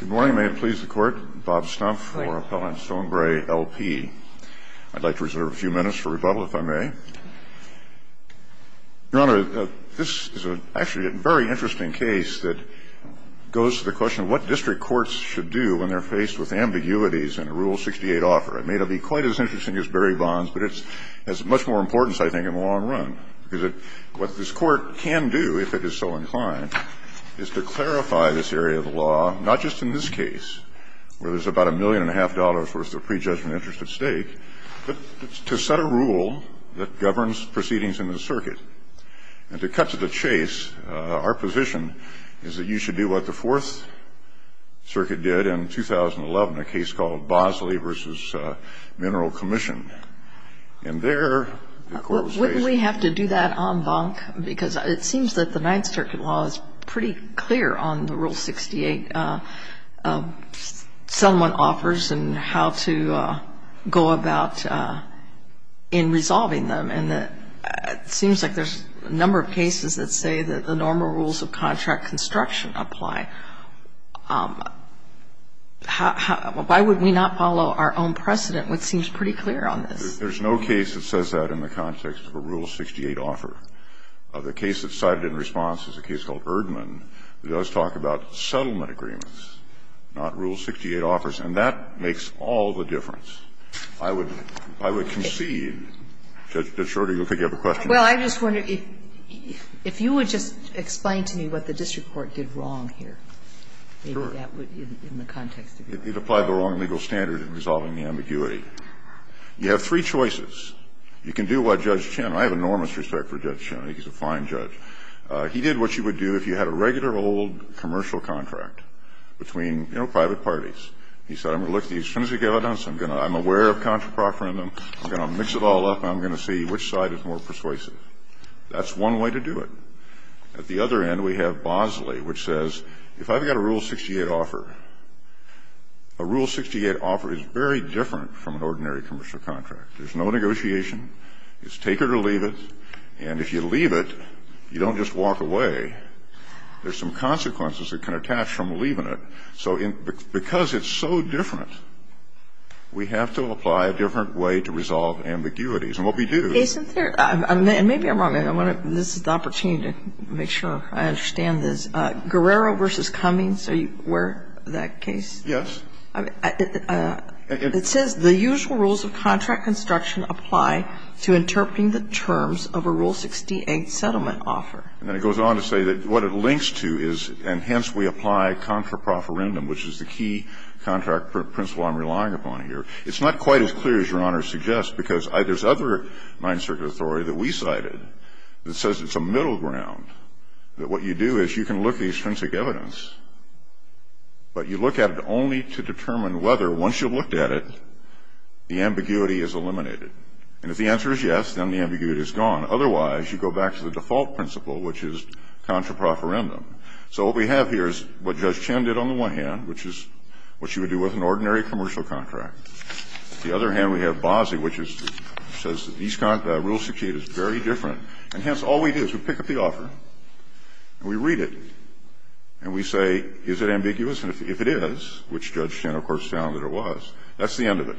Good morning. May it please the Court, Bob Stumpf for Appellant Stonebrae L.P. I'd like to reserve a few minutes for rebuttal, if I may. Your Honor, this is actually a very interesting case that goes to the question of what district courts should do when they're faced with ambiguities in a Rule 68 offer. It may not be quite as interesting as Barry Bonds, but it has much more importance, I think, in the long run. Because what this Court can do, if it is so inclined, is to clarify this area of the law, not just in this case, where there's about a million and a half dollars worth of prejudgment interest at stake, but to set a rule that governs proceedings in the circuit. And to cut to the chase, our position is that you should do what the Fourth Circuit did in 2011, a case called Bosley v. Mineral Commission. And there, the Court was raised. Wouldn't we have to do that en banc? Because it seems that the Ninth Circuit law is pretty clear on the Rule 68 someone offers and how to go about in resolving them. And it seems like there's a number of cases that say that the normal rules of contract construction apply. Why would we not follow our own precedent, which seems pretty clear on this? There's no case that says that in the context of a Rule 68 offer. The case that's cited in response is a case called Erdman that does talk about settlement agreements, not Rule 68 offers. And that makes all the difference. I would concede. Judge Shorter, you look like you have a question. Well, I just wonder, if you would just explain to me what the district court did wrong here, maybe that would, in the context of your question. It applied the wrong legal standard in resolving the ambiguity. You have three choices. You can do what Judge Chin, I have enormous respect for Judge Chin. He's a fine judge. He did what you would do if you had a regular old commercial contract between, you know, private parties. He said, I'm going to look at these frenzied guidance. I'm going to, I'm aware of contraproferendum. I'm going to mix it all up and I'm going to see which side is more persuasive. That's one way to do it. At the other end, we have Bosley, which says, if I've got a Rule 68 offer, a Rule 68 offer is very different from an ordinary commercial contract. There's no negotiation. It's take it or leave it. And if you leave it, you don't just walk away. There's some consequences that can attach from leaving it. So because it's so different, we have to apply a different way to resolve ambiguities. And what we do is. Kagan. And maybe I'm wrong. This is the opportunity to make sure I understand this. Guerrero v. Cummings, are you aware of that case? Yes. It says the usual rules of contract construction apply to interpreting the terms of a Rule 68 settlement offer. And then it goes on to say that what it links to is. And hence, we apply contraproferendum, which is the key contract principle I'm relying upon here. It's not quite as clear as Your Honor suggests because there's other Ninth Circuit authority that we cited that says it's a middle ground. That what you do is you can look at the extrinsic evidence. But you look at it only to determine whether, once you've looked at it, the ambiguity is eliminated. And if the answer is yes, then the ambiguity is gone. Otherwise, you go back to the default principle, which is contraproferendum. So what we have here is what Judge Chin did on the one hand, which is what you would do with an ordinary commercial contract. On the other hand, we have Bozzi, which says that Rule 68 is very different. And hence, all we do is we pick up the offer and we read it. And we say, is it ambiguous? And if it is, which Judge Chin, of course, found that it was, that's the end of it.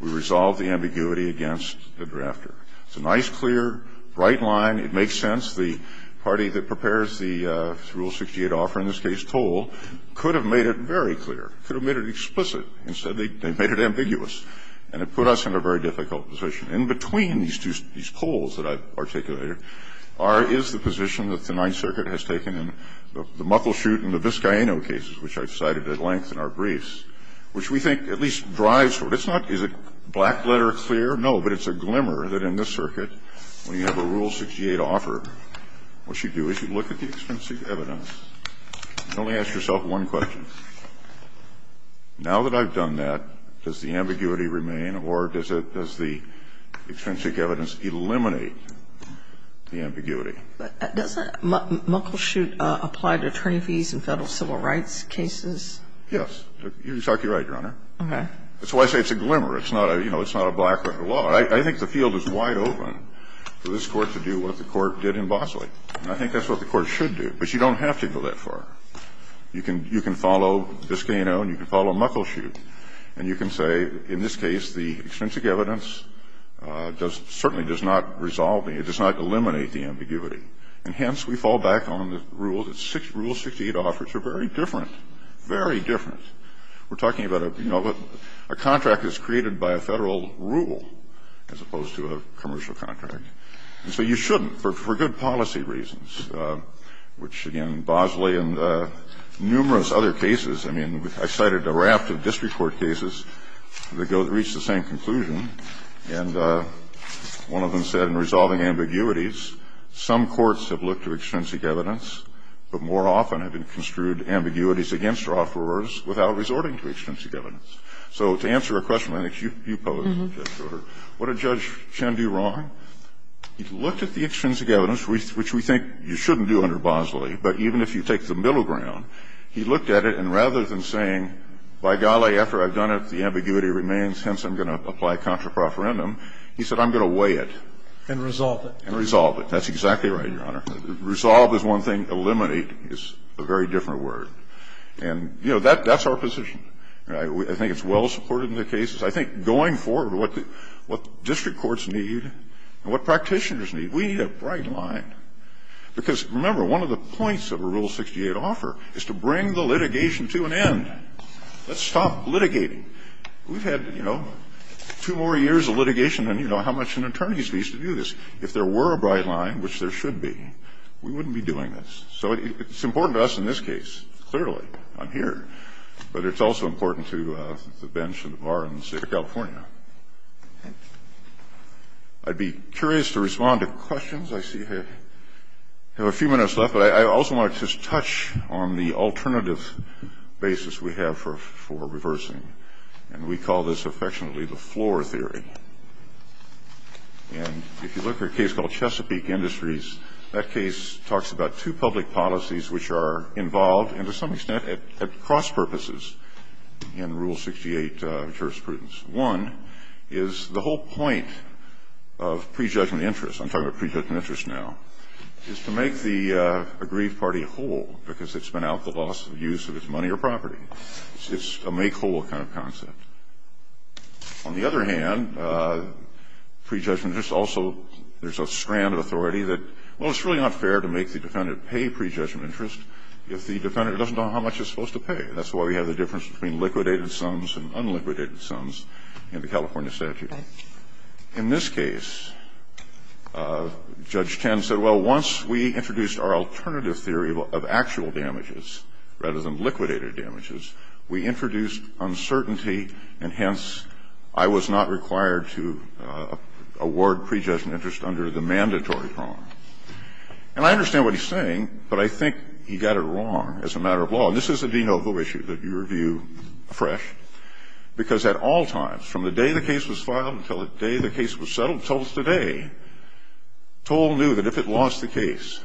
We resolve the ambiguity against the drafter. It's a nice, clear, bright line. It makes sense. The party that prepares the Rule 68 offer, in this case, toll, could have made it very clear, could have made it explicit. Instead, they made it ambiguous. And it put us in a very difficult position. In between these two, these tolls that I've articulated, is the position that the Ninth Circuit has taken in the Muckleshoot and the Viscaino cases, which I've cited at length in our briefs, which we think at least drives for it. It's not, is it black letter clear? No, but it's a glimmer that in this circuit, when you have a Rule 68 offer, what you do is you look at the extrinsic evidence. You only ask yourself one question. Now that I've done that, does the ambiguity remain or does the extrinsic evidence eliminate the ambiguity? Doesn't Muckleshoot apply to attorney fees in Federal civil rights cases? Yes. You're exactly right, Your Honor. Okay. That's why I say it's a glimmer. It's not a, you know, it's not a black letter law. I think the field is wide open for this Court to do what the Court did in Bosley. And I think that's what the Court should do. But you don't have to go that far. You can follow Viscaino and you can follow Muckleshoot and you can say in this case, the extrinsic evidence does, certainly does not resolve the, it does not eliminate the ambiguity. And hence, we fall back on the rule that Rule 68 offers are very different, very different. We're talking about a, you know, a contract is created by a Federal rule as opposed to a commercial contract. And so you shouldn't, for good policy reasons, which, again, Bosley and numerous other cases, I mean, I cited a raft of district court cases that reached the same conclusion. And one of them said in resolving ambiguities, some courts have looked to extrinsic evidence, but more often have construed ambiguities against their offerers without resorting to extrinsic evidence. So to answer a question I think you posed, Justice Breyer, what did Judge Chen do wrong? He looked at the extrinsic evidence, which we think you shouldn't do under Bosley, but even if you take the middle ground, he looked at it and rather than saying, by golly, after I've done it, the ambiguity remains, hence I'm going to apply contraproferendum, he said, I'm going to weigh it. And resolve it. And resolve it. That's exactly right, Your Honor. Resolve is one thing. Eliminate is a very different word. And, you know, that's our position. I think it's well supported in the cases. I think going forward, what district courts need and what practitioners need, we need a bright line. Because, remember, one of the points of a Rule 68 offer is to bring the litigation to an end. Let's stop litigating. We've had, you know, two more years of litigation than, you know, how much an attorney needs to do this. If there were a bright line, which there should be, we wouldn't be doing this. So it's important to us in this case, clearly. I'm here. But it's also important to the bench and the bar in the state of California. I'd be curious to respond to questions. I see we have a few minutes left. But I also want to just touch on the alternative basis we have for reversing. And we call this affectionately the floor theory. And if you look at a case called Chesapeake Industries, that case talks about two public policies which are involved and, to some extent, at cross-purposes in Rule 68 jurisprudence. One is the whole point of prejudgment interest. I'm talking about prejudgment interest now. It's to make the aggrieved party whole because it's been out the loss of use of its money or property. It's a make whole kind of concept. On the other hand, prejudgment interest also, there's a strand of authority that, well, it's really not fair to make the defendant pay prejudgment interest if the defendant doesn't know how much he's supposed to pay. That's why we have the difference between liquidated sums and unliquidated sums in the California statute. In this case, Judge Tenn said, well, once we introduced our alternative theory of actual damages rather than liquidated damages, we introduced uncertainty and, hence, I was not required to award prejudgment interest under the mandatory prong. And I understand what he's saying, but I think he got it wrong as a matter of law. And this is a de novo issue that you review afresh because at all times, from the day the case was filed until the day the case was settled until today, toll knew that if it lost the case,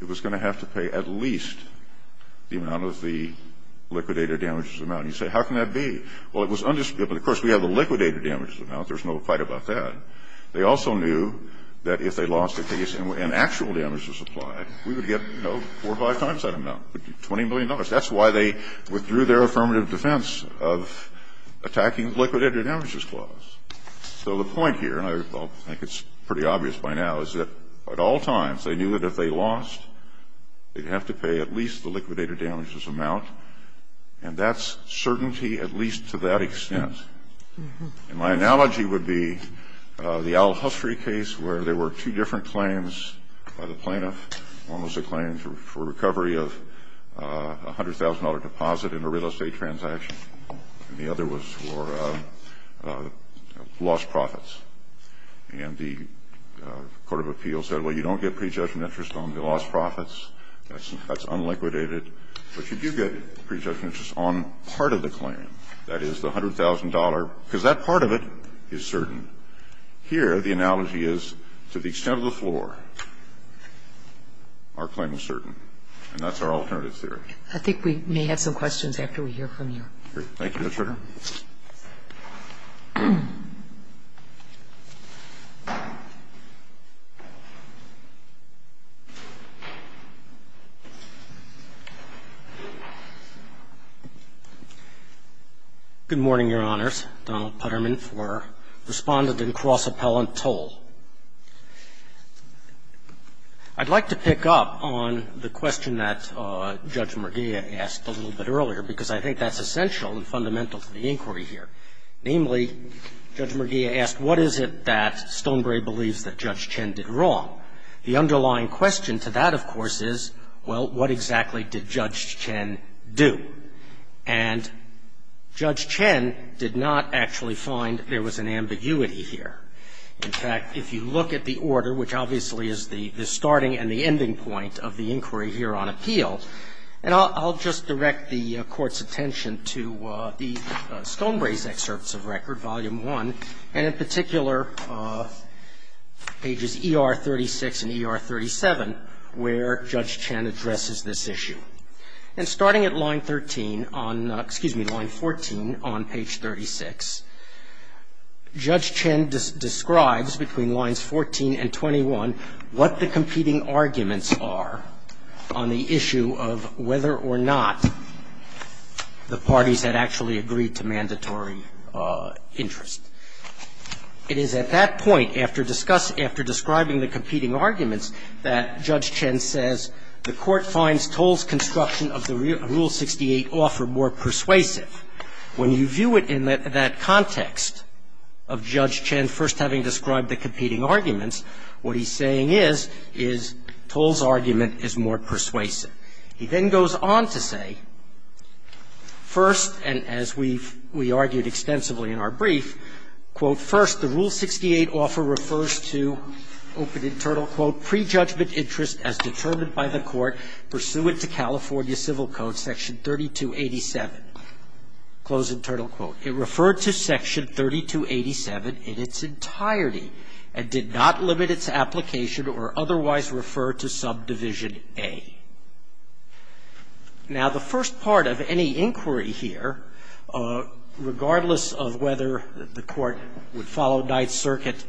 it was going to have to pay at least the amount of the liquidated damages amount. And you say, how can that be? Well, it was undisputed. Of course, we have the liquidated damages amount. There's no fight about that. They also knew that if they lost the case and actual damages applied, we would get, you know, four or five times that amount, $20 million. That's why they withdrew their affirmative defense of attacking the liquidated damages clause. So the point here, and I think it's pretty obvious by now, is that at all times, they knew that if they lost, they'd have to pay at least the liquidated damages amount, and that's certainty at least to that extent. And my analogy would be the Al Hussrey case where there were two different claims by the plaintiff. One was a claim for recovery of a $100,000 deposit in a real estate transaction, and the other was for lost profits. And the court of appeals said, well, you don't get prejudged interest on the lost profits, that's unliquidated, but you do get prejudged interest on part of the claim, that is, the $100,000, because that part of it is certain. Here, the analogy is, to the extent of the floor, our claim is certain, and that's our alternative theory. I think we may have some questions after we hear from you. Thank you, Your Honor. Good morning, Your Honors. Donald Putterman for Respondent and Cross-Appellant Toll. I'd like to pick up on the question that Judge Merguia asked a little bit earlier, because I think that's essential and fundamental to the inquiry here. Namely, Judge Merguia asked, what is it that Stonebrae believes that Judge Chen did wrong? The underlying question to that, of course, is, well, what exactly did Judge Chen do? And Judge Chen did not actually find there was an ambiguity here. In fact, if you look at the order, which obviously is the starting and the ending point of the inquiry here on appeal, and I'll just direct the Court's attention to the Stonebrae's excerpts of record, Volume I, and in particular, pages ER-36 and ER-37, where Judge Chen addresses this issue. And starting at line 13 on, excuse me, line 14 on page 36, Judge Chen describes between lines 14 and 21 what the competing arguments are on the issue of whether or not the parties had actually agreed to mandatory interest. It is at that point, after describing the competing arguments, that Judge Chen says, the Court finds Toll's construction of the Rule 68 offer more persuasive. When you view it in that context of Judge Chen first having described the competing arguments, what he's saying is, is Toll's argument is more persuasive. He then goes on to say, first, and as we've argued extensively in our brief, quote, First, the Rule 68 offer refers to, open internal quote, pre-judgment interest as determined by the Court pursuant to California Civil Code, Section 3287, close internal quote. It referred to Section 3287 in its entirety and did not limit its application or otherwise refer to Subdivision A. Now, the first part of any inquiry here, regardless of whether the Court would follow Ninth Circuit,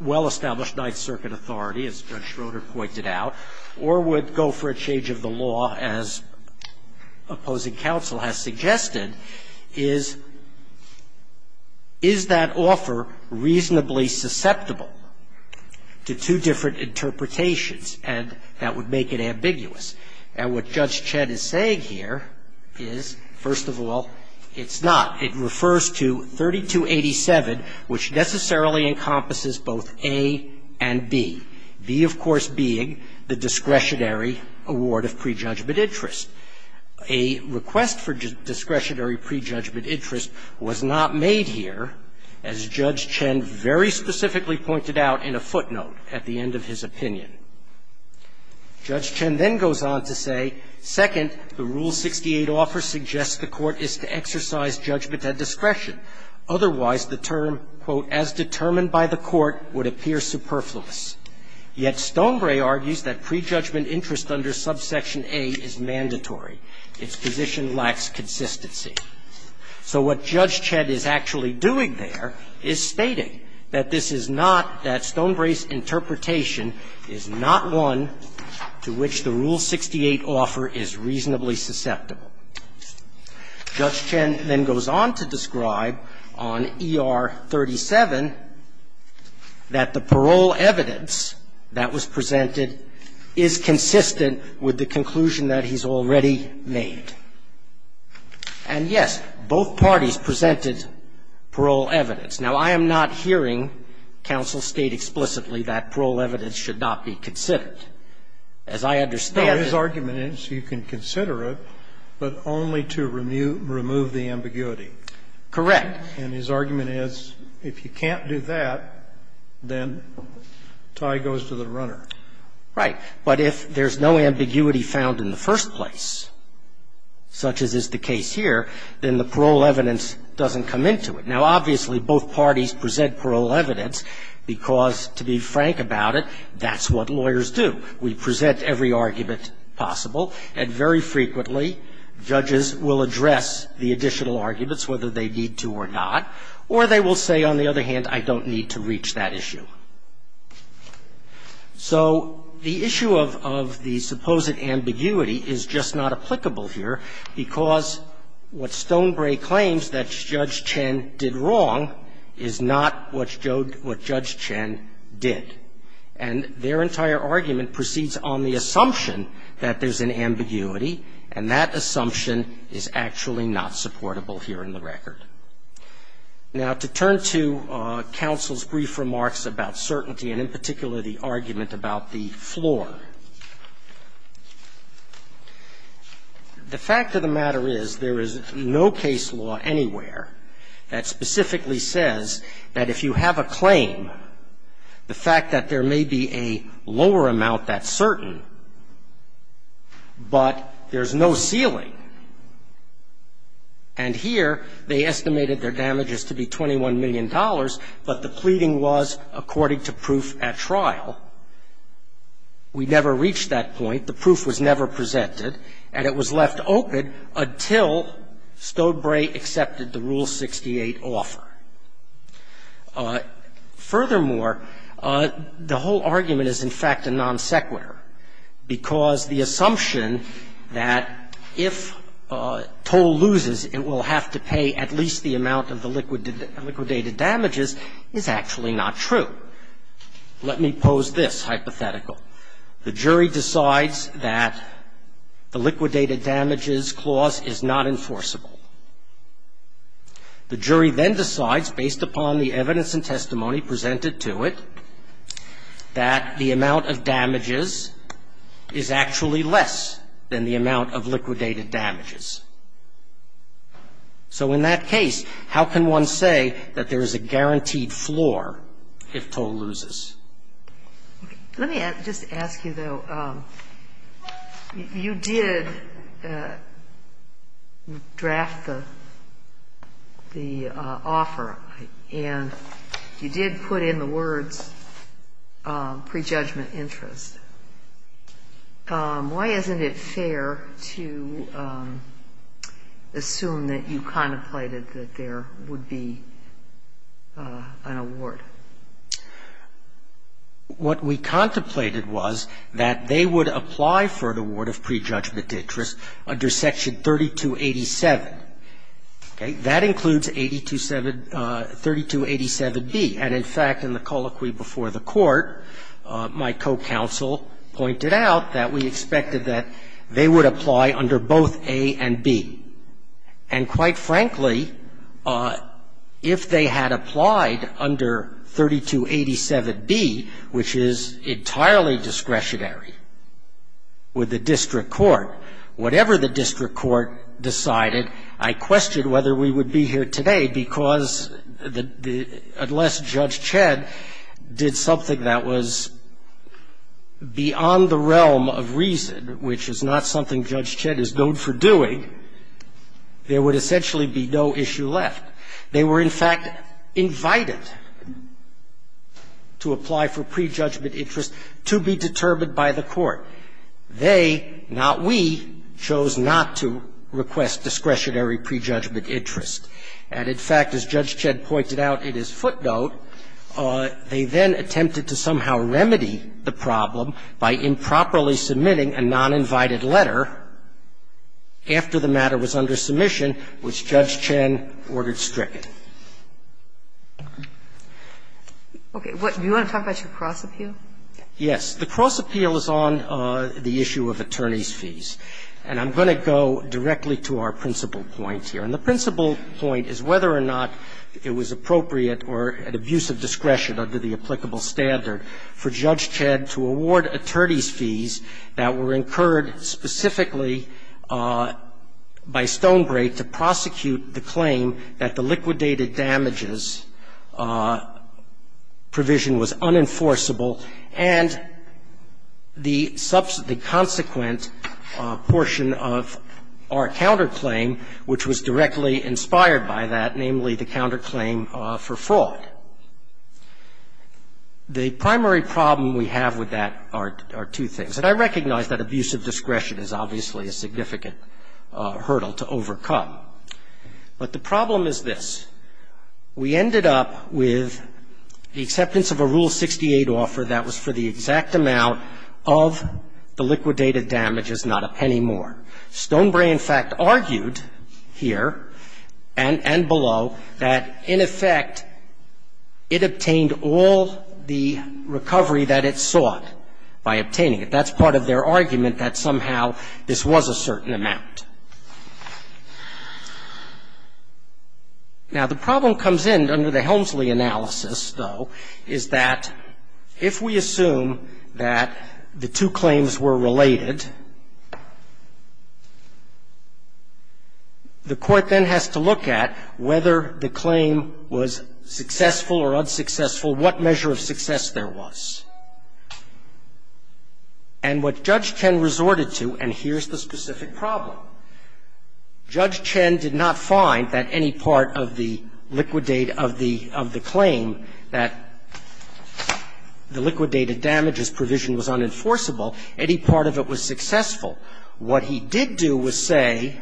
well-established Ninth Circuit authority, as Judge Schroeder pointed out, or would go for a change of the law, as opposing counsel has suggested, is, is that offer reasonably susceptible to two different interpretations and that would make it ambiguous. And what Judge Chen is saying here is, first of all, it's not. It refers to 3287, which necessarily encompasses both A and B, B, of course, being the discretionary award of pre-judgment interest. A request for discretionary pre-judgment interest was not made here, as Judge Chen very specifically pointed out in a footnote at the end of his opinion. Judge Chen then goes on to say, second, the Rule 68 offer suggests the Court is to exercise judgment at discretion. Otherwise, the term, quote, as determined by the Court would appear superfluous. Yet Stonebrae argues that pre-judgment interest under Subsection A is mandatory. Its position lacks consistency. So what Judge Chen is actually doing there is stating that this is not, that Stonebrae's interpretation is not one to which the Rule 68 offer is reasonably susceptible. Judge Chen then goes on to describe on ER 37 that the parole evidence that was presented is consistent with the conclusion that he's already made. And, yes, both parties presented parole evidence. Now, I am not hearing counsel state explicitly that parole evidence should not be considered. As I understand it --" Scalia's argument is you can consider it, but only to remove the ambiguity. Correct. And his argument is if you can't do that, then tie goes to the runner. Right. But if there's no ambiguity found in the first place, such as is the case here, then the parole evidence doesn't come into it. Now, obviously, both parties present parole evidence because, to be frank about it, that's what lawyers do. We present every argument possible, and very frequently, judges will address the additional arguments, whether they need to or not, or they will say, on the other hand, I don't need to reach that issue. So the issue of the supposed ambiguity is just not applicable here, because what Stonebrae claims that Judge Chen did wrong is not what Judge Chen did. And their entire argument proceeds on the assumption that there's an ambiguity, and that assumption is actually not supportable here in the record. Now, to turn to counsel's brief remarks about certainty, and in particular, the argument about the floor. The fact of the matter is there is no case law anywhere that specifically says that if you have a claim, the fact that there may be a lower amount that's certain, but there's no ceiling. And here, they estimated their damages to be $21 million, but the pleading was according to proof at trial. We never reached that point. The proof was never presented, and it was left open until Stonebrae accepted the Rule 68 offer. Furthermore, the whole argument is, in fact, a non sequitur, because the assumption that if Toll loses, it will have to pay at least the amount of the liquidated damages is actually not true. Let me pose this hypothetical. The jury decides that the liquidated damages clause is not enforceable. The jury then decides, based upon the evidence and testimony presented to it, that the amount of damages is actually less than the amount of liquidated damages. So in that case, how can one say that there is a guaranteed floor if Toll loses? Let me just ask you, though. You did draft the offer, and you did put in the words, previously, that there was prejudgment interest. Why isn't it fair to assume that you contemplated that there would be an award? What we contemplated was that they would apply for an award of prejudgment interest under Section 3287. Okay. That includes 827 3287b. And, in fact, in the colloquy before the Court, my co-counsel pointed out that we expected that they would apply under both a and b. And, quite frankly, if they had applied under 3287b, which is entirely discretionary with the district court, whatever the district court decided, I questioned whether we would be here today, because unless Judge Chedd did something that was beyond the realm of reason, which is not something Judge Chedd is known for doing, there would essentially be no issue left. They were, in fact, invited to apply for prejudgment interest to be determined by the Court. They, not we, chose not to request discretionary prejudgment interest. And, in fact, as Judge Chedd pointed out in his footnote, they then attempted to somehow remedy the problem by improperly submitting a noninvited letter after the matter was under submission, which Judge Chedd ordered stricken. Okay. Do you want to talk about your cross appeal? Yes. The cross appeal is on the issue of attorneys' fees. And I'm going to go directly to our principal point here. And the principal point is whether or not it was appropriate or an abuse of discretion under the applicable standard for Judge Chedd to award attorneys' fees that were incurred specifically by Stonebrake to prosecute the claim that the liquidated damages provision was unenforceable, and the subsequent portion of our counterclaim, which was directly inspired by that, namely the counterclaim for fraud. The primary problem we have with that are two things. And I recognize that abuse of discretion is obviously a significant hurdle to overcome. But the problem is this. We ended up with the acceptance of a Rule 68 offer that was for the exact amount of the liquidated damages, not a penny more. Stonebrake, in fact, argued here and below that, in effect, it obtained all the recovery that it sought by obtaining it. That's part of their argument that somehow this was a certain amount. Now, the problem comes in under the Helmsley analysis, though, is that if we assume that the two claims were related, the Court then has to look at whether the claim was successful or unsuccessful, what measure of success there was. And what Judge Chen resorted to, and here's the specific problem, Judge Chen did not find that any part of the liquidate of the claim that the liquidated damages provision was unenforceable, any part of it was successful. What he did do was say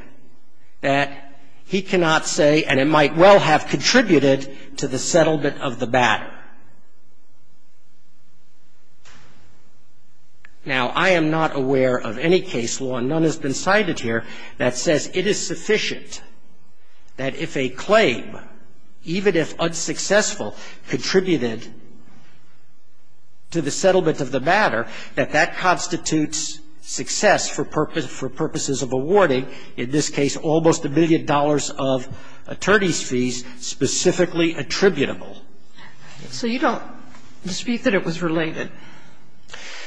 that he cannot say, and it might well have contributed to the settlement of the matter. Now, I am not aware of any case law, and none has been cited here, that says it is sufficient that if a claim, even if unsuccessful, contributed to the settlement of the matter, that that constitutes success for purposes of awarding, in this case, almost a billion dollars of attorney's fees specifically attributable. So you don't dispute that it was related?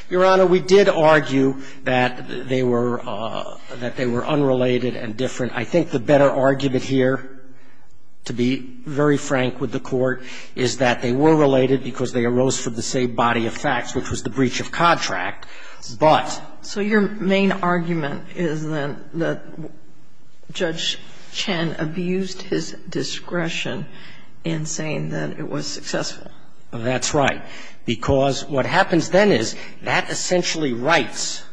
Your Honor, we did argue that they were unrelated and different. I think the better argument here, to be very frank with the Court, is that they were related because they arose from the same body of facts, which was the breach of contract, but. So your main argument is then that Judge Chen abused his discretion in saying that it was successful? That's right, because what happens then is that essentially writes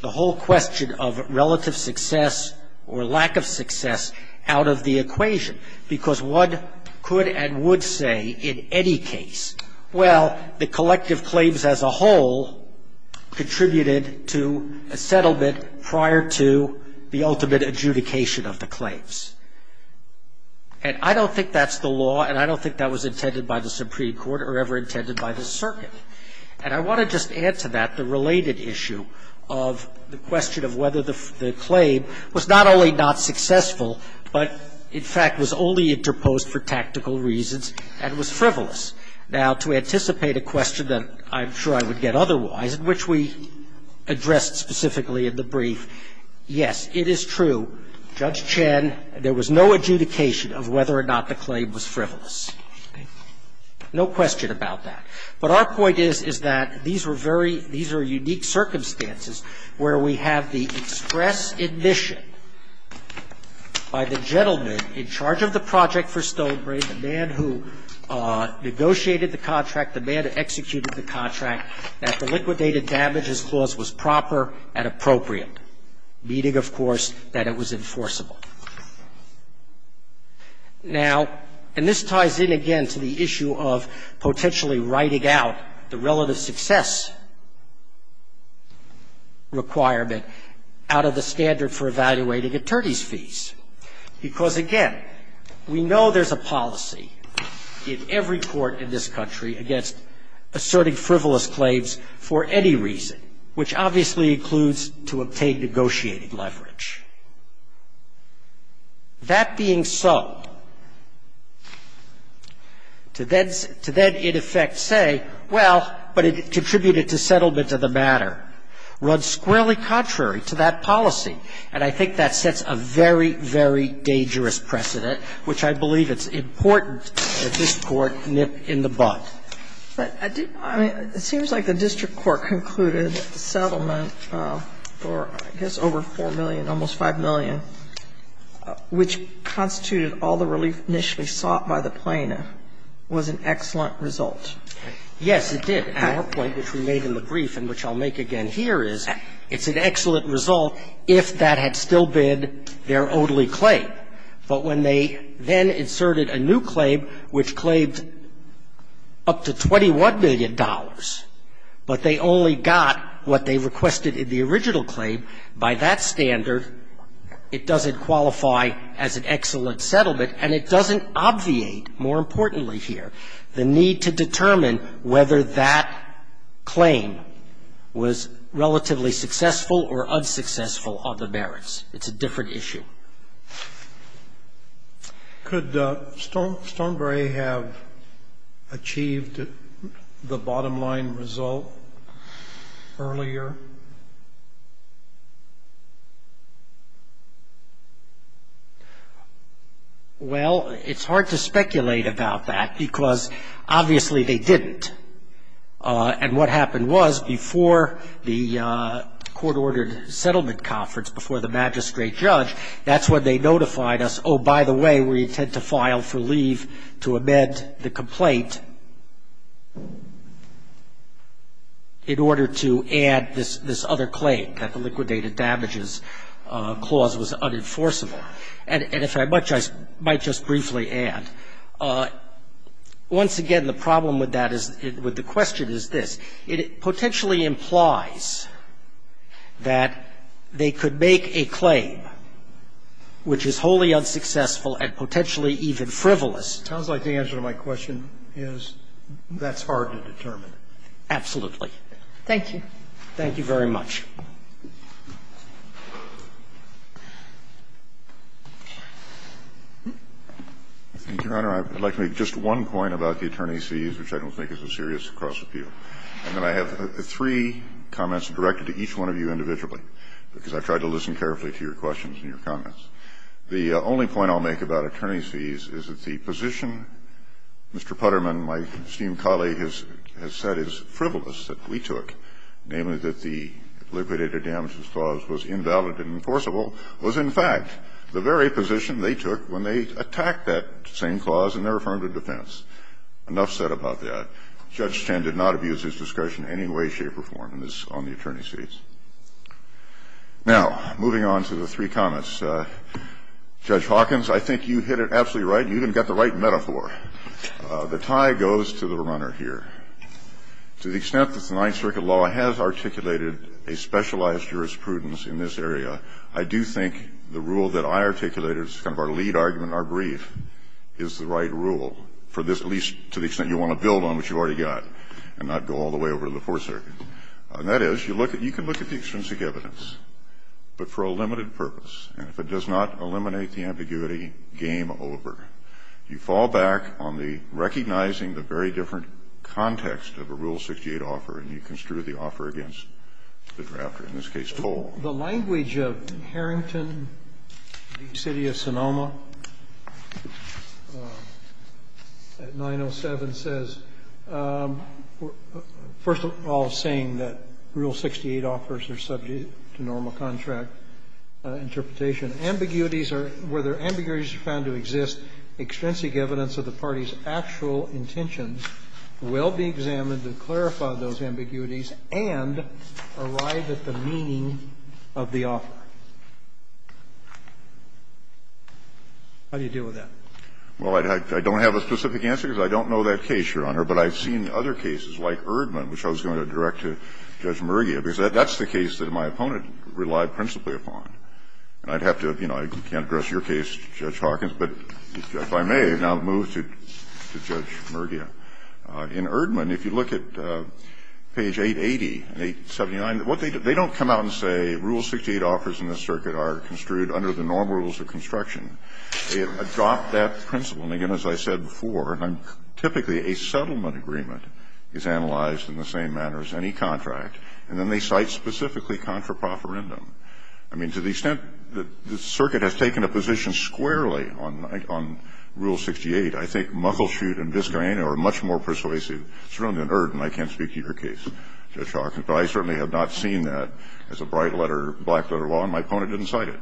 the whole question of relative success or lack of success out of the equation, because what could and would say in any case? Well, the collective claims as a whole contributed to a settlement prior to the ultimate adjudication of the claims. And I don't think that's the law, and I don't think that was intended by the Supreme Court or ever intended by the circuit. And I want to just add to that the related issue of the question of whether the claim was not only not successful, but in fact was only interposed for tactical reasons and was frivolous. Now, to anticipate a question that I'm sure I would get otherwise, which we addressed specifically in the brief, yes, it is true. Judge Chen, there was no adjudication of whether or not the claim was frivolous. No question about that. But our point is, is that these were very – these are unique circumstances where we have the express admission by the gentleman in charge of the project for Stonebrain, the man who negotiated the contract, the man who executed the contract, that the liquidated damages clause was proper and appropriate, meaning, of course, that it was enforceable. Now, and this ties in again to the issue of potentially writing out the relative success requirement out of the standard for evaluating attorneys' fees, because, again, we know there's a policy in every court in this country against asserting frivolous claims for any reason, which obviously includes to obtain negotiated leverage. That being so, to then in effect say, well, but it contributed to settlement of the matter, runs squarely contrary to that policy. And I think that sets a very, very dangerous precedent, which I believe it's important that this Court nip in the bud. Sotomayor, it seems like the district court concluded settlement for, I guess, over 4 million, almost 5 million, which constituted all the relief initially sought by the plaintiff, was an excellent result. Yes, it did. Our point, which we made in the brief and which I'll make again here, is it's an excellent result if that had still been their only claim. But when they then inserted a new claim, which claimed up to $21 million, but they only got what they requested in the original claim, by that standard, it doesn't qualify as an excellent settlement, and it doesn't obviate, more importantly here, the need to determine whether that claim was relatively successful or unsuccessful on the merits. It's a different issue. Could Stormberry have achieved the bottom line result earlier? Well, it's hard to speculate about that because, obviously, they didn't. And what happened was, before the court-ordered settlement conference, before the magistrate judge, that's when they notified us, oh, by the way, we intend to file for leave to amend the complaint in order to add this other claim, that the liquidated damages clause was unenforceable. And if I might just briefly add, once again, the problem with that is it's a It potentially implies that they could make a claim which is wholly unsuccessful and potentially even frivolous. It sounds like the answer to my question is that's hard to determine. Absolutely. Thank you. Thank you very much. Thank you, Your Honor. I'd like to make just one point about the attorney's fees, which I don't think is a serious cross-appeal. And then I have three comments directed to each one of you individually because I've tried to listen carefully to your questions and your comments. The only point I'll make about attorney's fees is that the position Mr. Putterman, my esteemed colleague, has said is frivolous, that we took, namely that the liquidated damages clause was invalid and enforceable, was in fact the very position they took when they attacked that same clause in their affirmative defense. Enough said about that. Judge Chen did not abuse his discretion in any way, shape or form on the attorney's fees. Now, moving on to the three comments. Judge Hawkins, I think you hit it absolutely right. You even got the right metaphor. The tie goes to the runner here. To the extent that the Ninth Circuit law has articulated a specialized jurisprudence in this area, I do think the rule that I articulated as kind of our lead argument, our brief, is the right rule for this, at least to the extent you want to build on what you've already got and not go all the way over to the Fourth Circuit. And that is, you can look at the extrinsic evidence, but for a limited purpose. And if it does not eliminate the ambiguity, game over. You fall back on the recognizing the very different context of a Rule 68 offer, and you construe the offer against the drafter, in this case, toll. The language of Harrington v. City of Sonoma at 907 says, first of all, saying that Rule 68 offers are subject to normal contract interpretation. Ambiguities are where there are ambiguities found to exist, extrinsic evidence of the party's actual intentions will be examined to clarify those ambiguities and arrive at the meaning of the offer. How do you deal with that? Well, I don't have a specific answer, because I don't know that case, Your Honor. But I've seen other cases, like Erdman, which I was going to direct to Judge Mergia. Because that's the case that my opponent relied principally upon. And I'd have to, you know, I can't address your case, Judge Hawkins, but if I may now move to Judge Mergia. In Erdman, if you look at page 880 and 879, what they do, they don't come out and say Rule 68 offers in this circuit are construed under the normal rules of construction. They adopt that principle. And again, as I said before, typically a settlement agreement is analyzed in the same manner as any contract. And then they cite specifically contraproferendum. I mean, to the extent that the circuit has taken a position squarely on Rule 68, I think Muckleshoot and Biscayne are much more persuasive, certainly than Erdman. I can't speak to your case, Judge Hawkins, but I certainly have not seen that as a bright letter, black letter law, and my opponent didn't cite it.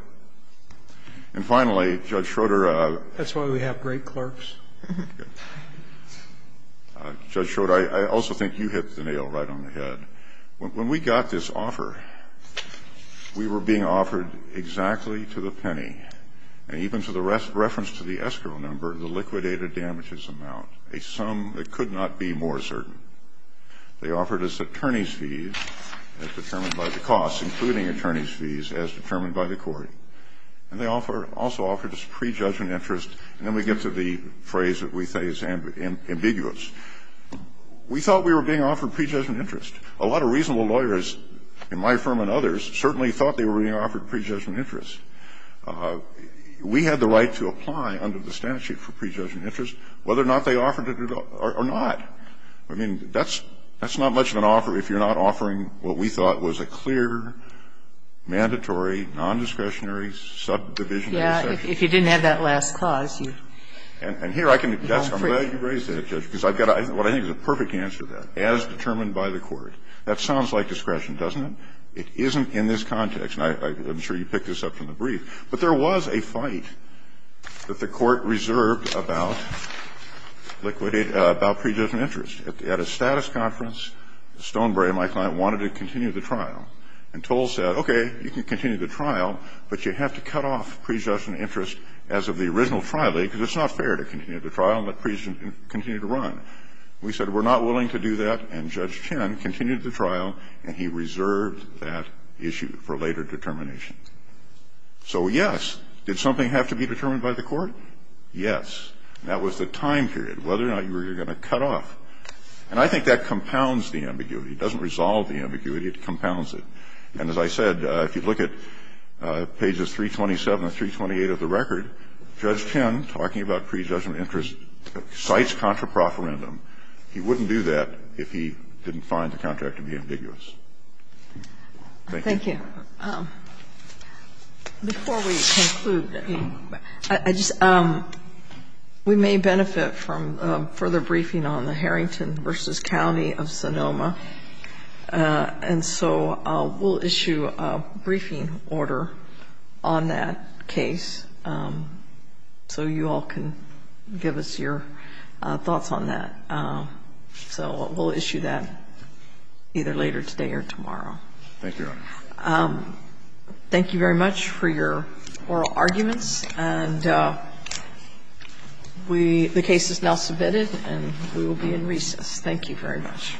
And finally, Judge Schroeder. That's why we have great clerks. Judge Schroeder, I also think you hit the nail right on the head. When we got this offer, we were being offered exactly to the penny, and even to the reference to the escrow number, the liquidated damages amount, a sum that could not be more certain. They offered us attorney's fees as determined by the cost, including attorney's fees as determined by the court. And they also offered us prejudgment interest. And then we get to the phrase that we say is ambiguous. We thought we were being offered prejudgment interest. A lot of reasonable lawyers in my firm and others certainly thought they were being offered prejudgment interest. We had the right to apply under the statute for prejudgment interest, whether or not they offered it or not. I mean, that's not much of an offer if you're not offering what we thought was a clear, mandatory, non-discretionary subdivision of the section. Yeah. If you didn't have that last clause, you're free. And here I can address that. I'm glad you raised that, Judge, because I've got what I think is a perfect answer to that, as determined by the court. That sounds like discretion, doesn't it? It isn't in this context. And I'm sure you picked this up from the brief. But there was a fight that the court reserved about liquidate – about prejudgment interest. At a status conference, Stonebrae, my client, wanted to continue the trial. And Toll said, okay, you can continue the trial, but you have to cut off prejudgment interest as of the original trial date, because it's not fair to continue the trial and let prejudgment continue to run. We said we're not willing to do that. And Judge Chin continued the trial, and he reserved that issue for later determination. So, yes. Did something have to be determined by the court? Yes. That was the time period, whether or not you were going to cut off. And I think that compounds the ambiguity. It doesn't resolve the ambiguity. It compounds it. And as I said, if you look at pages 327 and 328 of the record, Judge Chin, talking about prejudgment interest, cites contraproferendum. He wouldn't do that if he didn't find the contract to be ambiguous. Thank you. Thank you. Before we conclude, I just – we may benefit from further briefing on the Harrington v. County of Sonoma. And so we'll issue a briefing order on that case so you all can give us your thoughts on that. So we'll issue that either later today or tomorrow. Thank you, Your Honor. Thank you very much for your oral arguments. And we – the case is now submitted, and we will be in recess. Thank you very much.